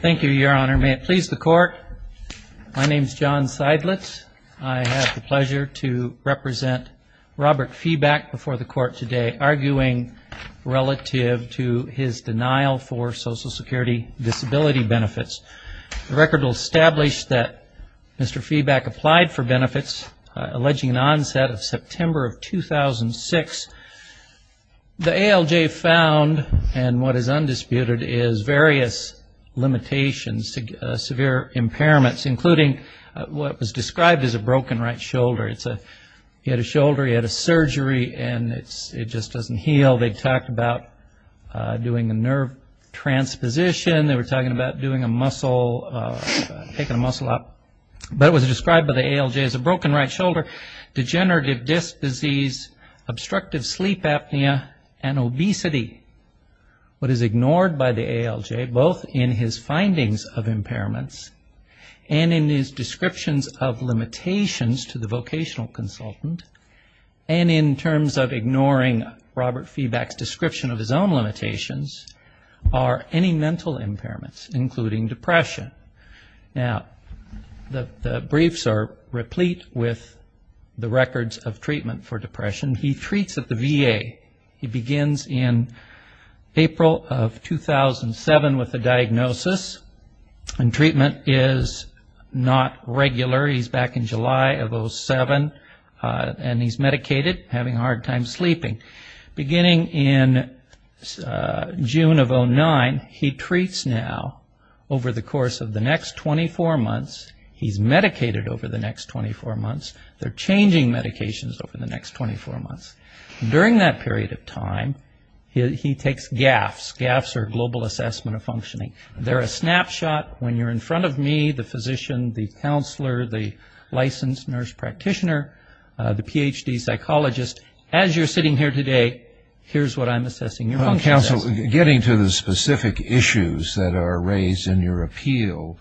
Thank you, Your Honor. May it please the Court, my name is John Seidlitz. I have the pleasure to represent Robert Febach before the Court today, arguing relative to his denial for Social Security disability benefits. The record will establish that Mr. Febach applied for benefits, alleging an onset of September of 2006. The ALJ found, and what is undisputed, is various limitations, severe impairments, including what was described as a broken right shoulder. He had a shoulder, he had a surgery, and it just doesn't heal. They talked about doing a nerve transposition, they were talking about doing a muscle, taking a muscle out. But it was described by the ALJ as a broken right shoulder, degenerative disc disease, obstructive sleep apnea, and obesity. What is ignored by the ALJ, both in his findings of impairments and in his descriptions of limitations to the vocational consultant, and in terms of ignoring Robert Febach's description of his own limitations, are any mental impairments, including depression. Now, the briefs are replete with the records of treatment for depression. He treats at the VA. He begins in April of 2007 with a diagnosis, and treatment is not regular. He's back in July of 2007, and he's medicated, having a hard time sleeping. Beginning in June of 2009, he treats now over the course of the next 24 months. He's medicated over the next 24 months. They're changing medications over the next 24 months. During that period of time, he takes GAFs. GAFs are Global Assessment of Functioning. They're a snapshot. When you're in front of me, the physician, the counselor, the licensed nurse practitioner, the PhD psychologist, as you're sitting here today, here's what I'm assessing your function is. So, getting to the specific issues that are raised in your appeal,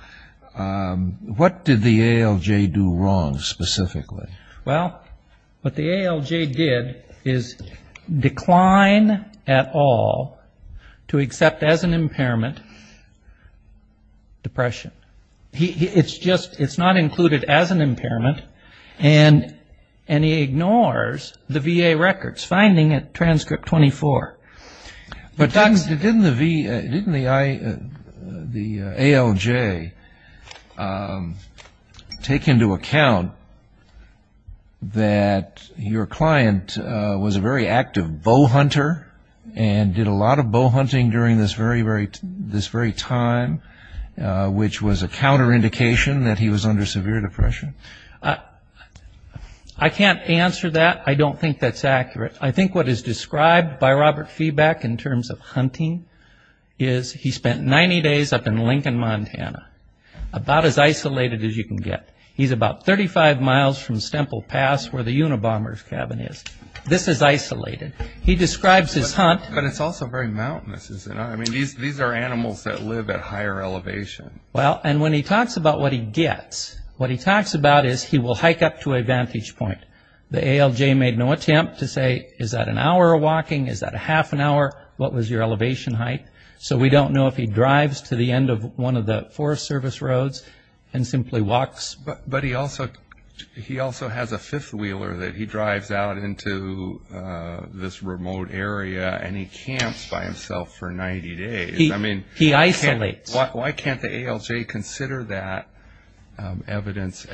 what did the ALJ do wrong, specifically? Well, what the ALJ did is decline at all to accept as an impairment depression. It's just, it's not included as an impairment, and he ignores the VA records, finding it transcript 24. But didn't the ALJ take into account that your client was a very active bowhunter, and did a lot of bowhunting during this very time, which was a counterindication that he was under severe depression? I can't answer that. I don't think that's accurate. I think what is described by Robert Feebeck in terms of hunting is he spent 90 days up in Lincoln, Montana, about as isolated as you can get. He's about 35 miles from Stemple Pass, where the Unabomber's cabin is. This is isolated. He describes his hunt. But it's also very mountainous, isn't it? I mean, these are animals that live at higher elevation. Well, and when he talks about what he gets, what he talks about is he will hike up to a vantage point. The ALJ made no attempt to say, is that an hour of walking? Is that a half an hour? What was your elevation height? So we don't know if he drives to the end of one of the Forest Service roads and simply walks. But he also has a fifth wheeler that he drives out into this remote area, and he camps by himself for 90 days. He isolates. Why can't the ALJ consider that evidence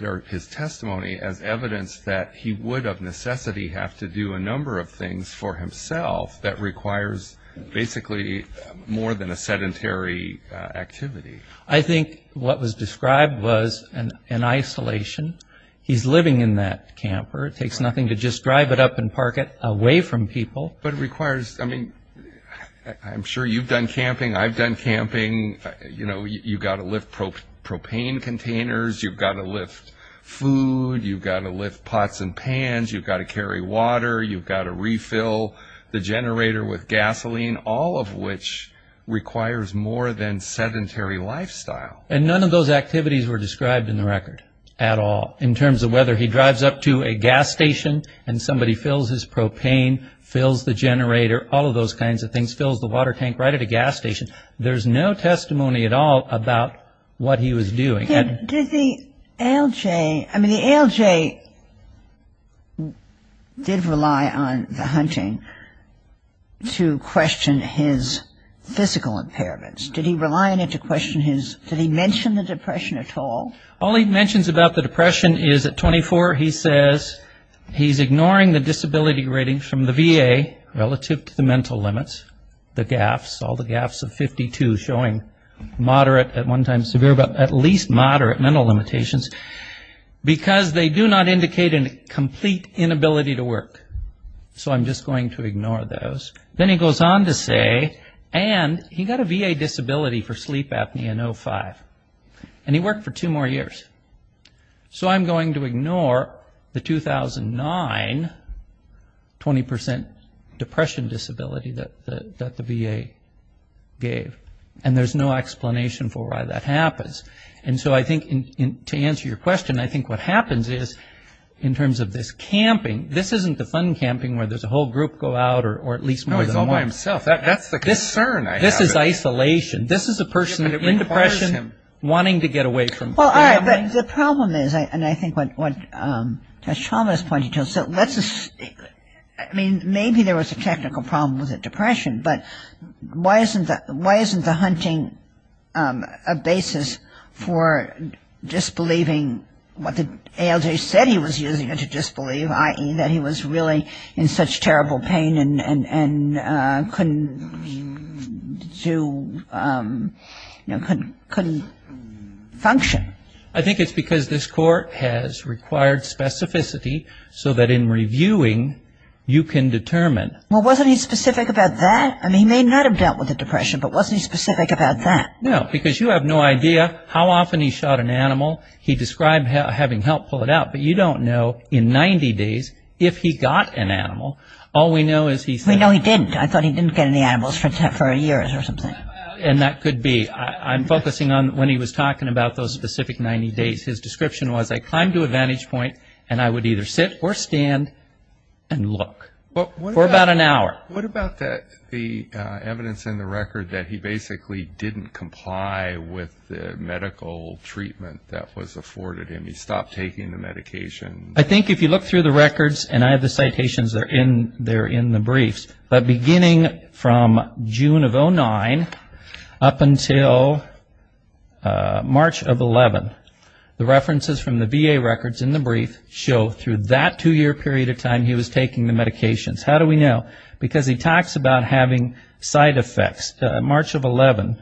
or his testimony as evidence that he would of necessity have to do a number of things for himself that requires basically more than a sedentary activity? I think what was described was an isolation. He's living in that camper. It takes nothing to just drive it up and park it away from people. I'm sure you've done camping. I've done camping. You've got to lift propane containers. You've got to lift food. You've got to lift pots and pans. You've got to carry water. You've got to refill the generator with gasoline, all of which requires more than sedentary lifestyle. And none of those activities were described in the record at all in terms of whether he drives up to a gas station and somebody fills his propane, fills the generator, all of those kinds of things, fills the water tank right at a gas station. There's no testimony at all about what he was doing. Did the ALJ – I mean, the ALJ did rely on the hunting to question his physical impairments. Did he rely on it to question his – did he mention the depression at all? All he mentions about the depression is at 24 he says he's ignoring the disability rating from the VA relative to the mental limits, the GAFs, all the GAFs of 52 showing moderate at one time severe but at least moderate mental limitations because they do not indicate a complete inability to work. So I'm just going to ignore those. Then he goes on to say, and he got a VA disability for sleep apnea in 05, and he worked for two more years. So I'm going to ignore the 2009 20 percent depression disability that the VA gave, and there's no explanation for why that happens. And so I think to answer your question, I think what happens is in terms of this camping, this isn't the fun camping where there's a whole group go out or at least more than one. No, he's all by himself. That's the concern I have. This is isolation. This is a person in depression wanting to get away from family. I mean, maybe there was a technical problem with the depression, but why isn't the hunting a basis for disbelieving what the ALJ said he was using it to disbelieve, i.e. that he was really in such terrible pain and couldn't function? I think it's because this court has required specificity so that in reviewing, you can determine. Well, wasn't he specific about that? I mean, he may not have dealt with the depression, but wasn't he specific about that? No, because you have no idea how often he shot an animal. He described having help pull it out, but you don't know in 90 days if he got an animal. All we know is he said We know he didn't. I thought he didn't get any animals for years or something. And that could be. I'm focusing on when he was talking about those specific 90 days. His description was, I climbed to a vantage point and I would either sit or stand and look for about an hour. What about the evidence in the record that he basically didn't comply with the medical treatment that was afforded him? He stopped taking the medication. I think if you look through the records and I have the citations, they're in the briefs. But beginning from June of 09 up until March of 11, the references from the VA records in the brief show through that two year period of time he was taking the medications. How do we know? Because he talks about having side effects. March of 11,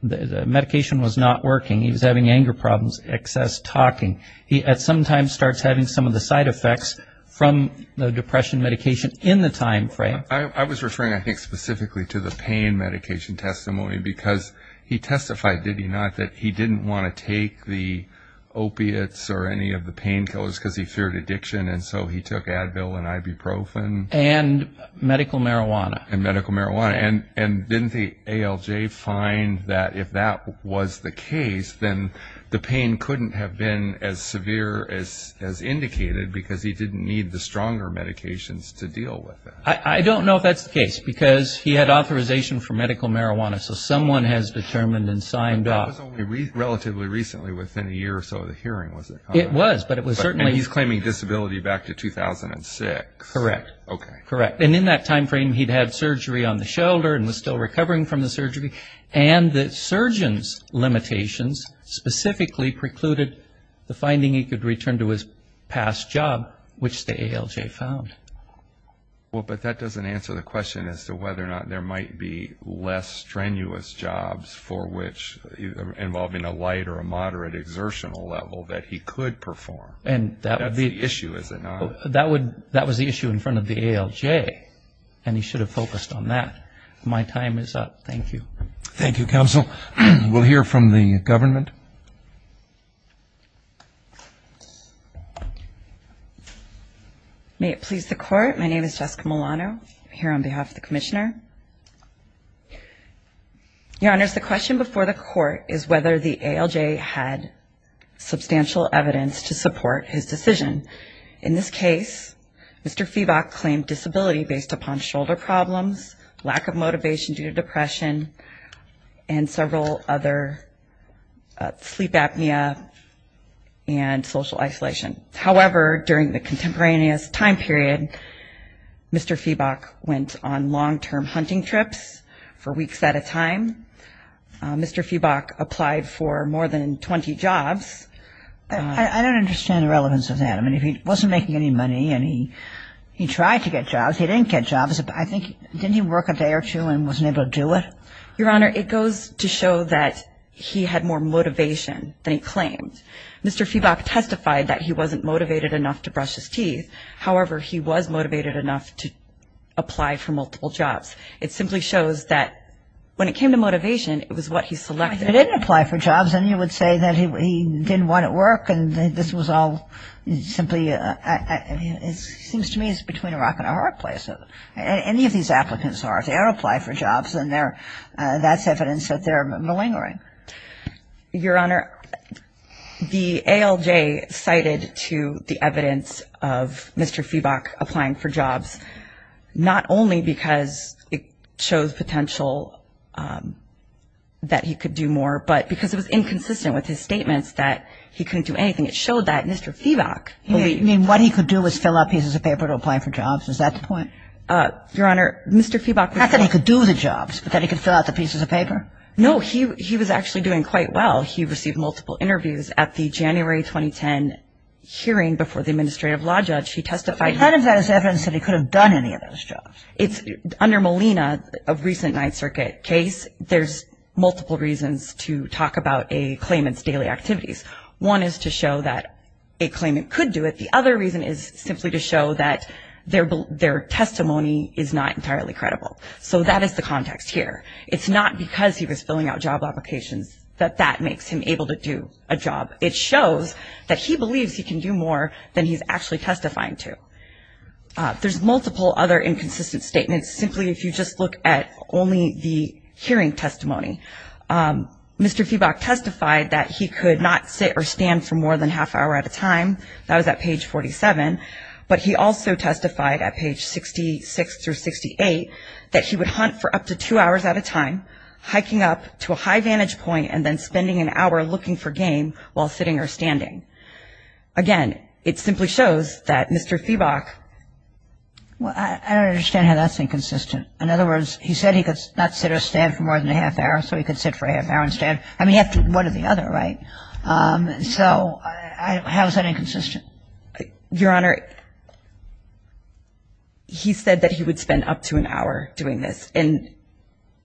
the medication was not working. He was having anger problems, excess talking. He at some time starts having some of the side effects from the depression medication in the time frame. I was referring, I think, specifically to the pain medication testimony because he testified, did he not, that he didn't want to take the opiates or any of the pain killers because he feared addiction. And so he took Advil and ibuprofen. And medical marijuana. And medical marijuana. And didn't the ALJ find that if that was the case, then the pain couldn't have been as severe as indicated because he didn't need the stronger medications to deal with it? I don't know if that's the case because he had authorization for medical marijuana. So someone has determined and signed off. But that was only relatively recently, within a year or so of the hearing, was it? It was, but it was certainly... And he's claiming disability back to 2006. Correct. Okay. Correct. And in that time frame, he'd had surgery on the shoulder and was still recovering from the surgery. And the surgeon's limitations specifically precluded the finding he could return to his past job, which the ALJ found. Well, but that doesn't answer the question as to whether or not there might be less strenuous jobs for which, involving a light or a moderate exertional level, that he could perform. And that would be... That's the issue, is it not? That was the issue in front of the ALJ, and he should have focused on that. My time is up. Thank you. Thank you, Counsel. We'll hear from the government. May it please the Court. My name is Jessica Milano. I'm here on behalf of the Commissioner. Your Honors, the question before the Court is whether the ALJ had substantial evidence to support his decision. In this case, Mr. Febok claimed disability based upon shoulder problems, lack of motivation due to depression, and several other sleep apnea and social isolation. However, during the contemporaneous time period, Mr. Febok went on long-term hunting trips for weeks at a time. Mr. Febok applied for more than 20 jobs. I don't understand the relevance of that. I mean, if he wasn't making any money and he tried to get jobs, he didn't get jobs. I think, didn't he work a day or two and wasn't able to do it? Your Honor, it goes to show that he had more motivation than he claimed. Mr. Febok testified that he wasn't motivated enough to brush his teeth. However, he was motivated enough to apply for multiple jobs. It simply shows that when it came to motivation, it was what he selected. If he didn't apply for jobs, then you would say that he didn't want to work and this was all simply, it seems to me it's between a rock and a hard place. Any of these applicants are, if they don't apply for jobs, then that's evidence that they're malingering. Your Honor, the ALJ cited to the evidence of Mr. Febok applying for jobs not only because it shows potential that he could do more, but because it was inconsistent with his statements that he couldn't do anything. It showed that Mr. Febok. You mean what he could do was fill out pieces of paper to apply for jobs? Is that the point? Your Honor, Mr. Febok was. Not that he could do the jobs, but that he could fill out the pieces of paper? No, he was actually doing quite well. He received multiple interviews at the January 2010 hearing before the administrative law judge. He testified. None of that is evidence that he could have done any of those jobs. Under Molina, a recent Ninth Circuit case, there's multiple reasons to talk about a claimant's daily activities. One is to show that a claimant could do it. The other reason is simply to show that their testimony is not entirely credible. So that is the context here. It's not because he was filling out job applications that that makes him able to do a job. It shows that he believes he can do more than he's actually testifying to. There's multiple other inconsistent statements simply if you just look at only the hearing testimony. Mr. Febok testified that he could not sit or stand for more than half hour at a time. That was at page 47. But he also testified at page 66 through 68 that he would hunt for up to two hours at a time, hiking up to a high vantage point and then spending an hour looking for game while sitting or standing. Again, it simply shows that Mr. Febok… Well, I don't understand how that's inconsistent. In other words, he said he could not sit or stand for more than a half hour, so he could sit for a half hour and stand. I mean, half of one or the other, right? So how is that inconsistent? Your Honor, he said that he would spend up to an hour doing this. And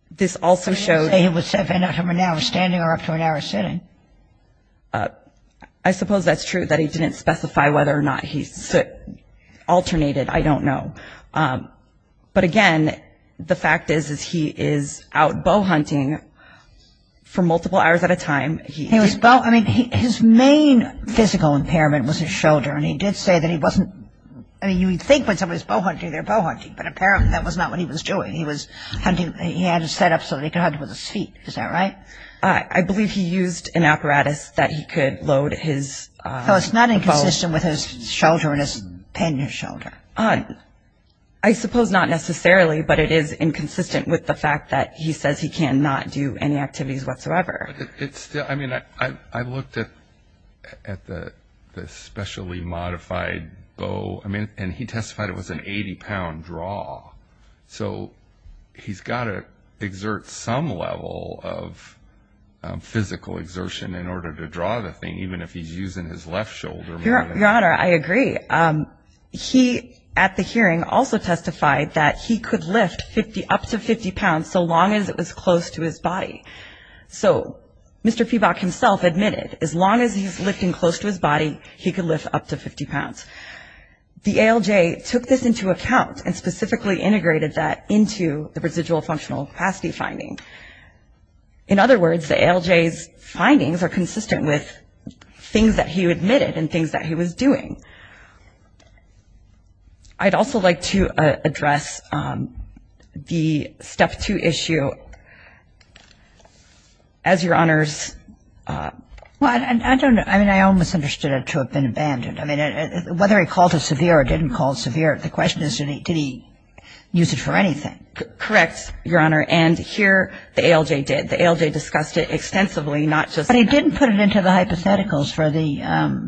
this also shows… He didn't say he would spend up to an hour standing or up to an hour sitting. I suppose that's true that he didn't specify whether or not he alternated. I don't know. But, again, the fact is, is he is out bow hunting for multiple hours at a time. He was bow… I mean, his main physical impairment was his shoulder, and he did say that he wasn't… I mean, you would think when somebody's bow hunting, they're bow hunting, but apparently that was not what he was doing. He was hunting… He had it set up so that he could hunt with his feet. Is that right? I believe he used an apparatus that he could load his bow… So it's not inconsistent with his shoulder and his pannier shoulder. I suppose not necessarily, but it is inconsistent with the fact that he says he cannot do any activities whatsoever. But it's still… I mean, I looked at the specially modified bow, and he testified it was an 80-pound draw. So he's got to exert some level of physical exertion in order to draw the thing, even if he's using his left shoulder more than… Your Honor, I agree. He, at the hearing, also testified that he could lift up to 50 pounds so long as it was close to his body. So Mr. Peebok himself admitted as long as he's lifting close to his body, he could lift up to 50 pounds. The ALJ took this into account and specifically integrated that into the residual functional capacity finding. In other words, the ALJ's findings are consistent with things that he admitted and things that he was doing. I'd also like to address the Step 2 issue. As Your Honors… Well, I don't… I mean, I almost understood it to have been abandoned. I mean, whether he called it severe or didn't call it severe, the question is, did he use it for anything? Correct, Your Honor. And here the ALJ did. The ALJ discussed it extensively, not just… But he didn't put it into the hypotheticals for the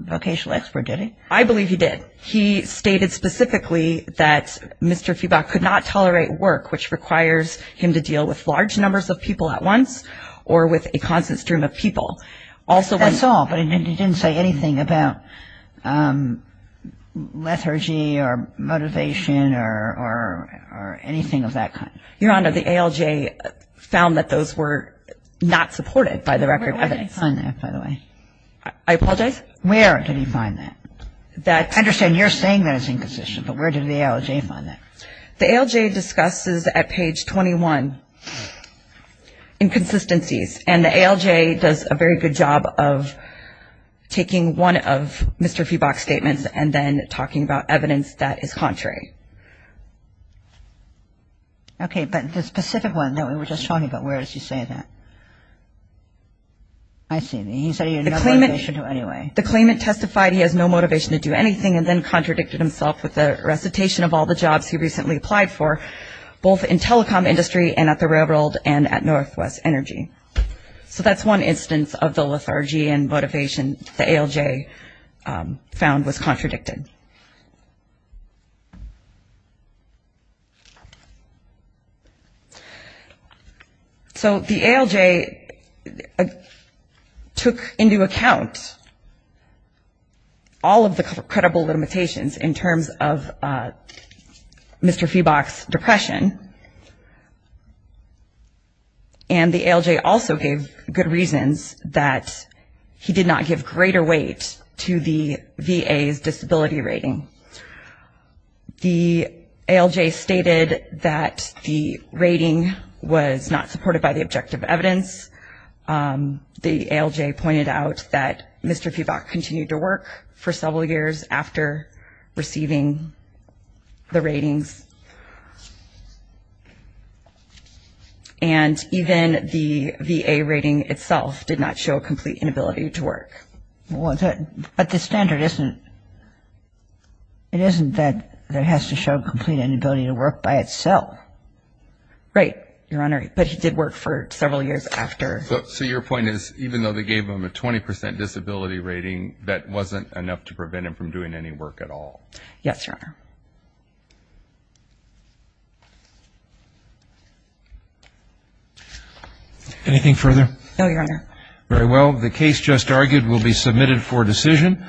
vocational expert, did he? I believe he did. He stated specifically that Mr. Peebok could not tolerate work, which requires him to deal with large numbers of people at once or with a constant stream of people. That's all, but he didn't say anything about lethargy or motivation or anything of that kind. Your Honor, the ALJ found that those were not supported by the record of evidence. Where did he find that, by the way? I apologize? Where did he find that? I understand you're saying that it's inconsistent, but where did the ALJ find that? The ALJ discusses at page 21 inconsistencies, and the ALJ does a very good job of taking one of Mr. Peebok's statements and then talking about evidence that is contrary. Okay, but the specific one that we were just talking about, where does he say that? I see. He said he had no motivation to anyway. The claimant testified he has no motivation to do anything and then contradicted himself with a recitation of all the jobs he recently applied for, both in telecom industry and at the railroad and at Northwest Energy. So that's one instance of the lethargy and motivation the ALJ found was contradicted. So the ALJ took into account all of the credible limitations in terms of Mr. Peebok's depression, and the ALJ also gave good reasons that he did not give greater weight to the VA's disability rating. The ALJ stated that the rating was not supported by the objective evidence. The ALJ pointed out that Mr. Peebok continued to work for several years after receiving the ratings, and even the VA rating itself did not show complete inability to work. But the standard isn't that it has to show complete inability to work by itself. Right, Your Honor, but he did work for several years after. So your point is even though they gave him a 20% disability rating, that wasn't enough to prevent him from doing any work at all? Yes, Your Honor. Anything further? No, Your Honor. Very well. The case just argued will be submitted for decision.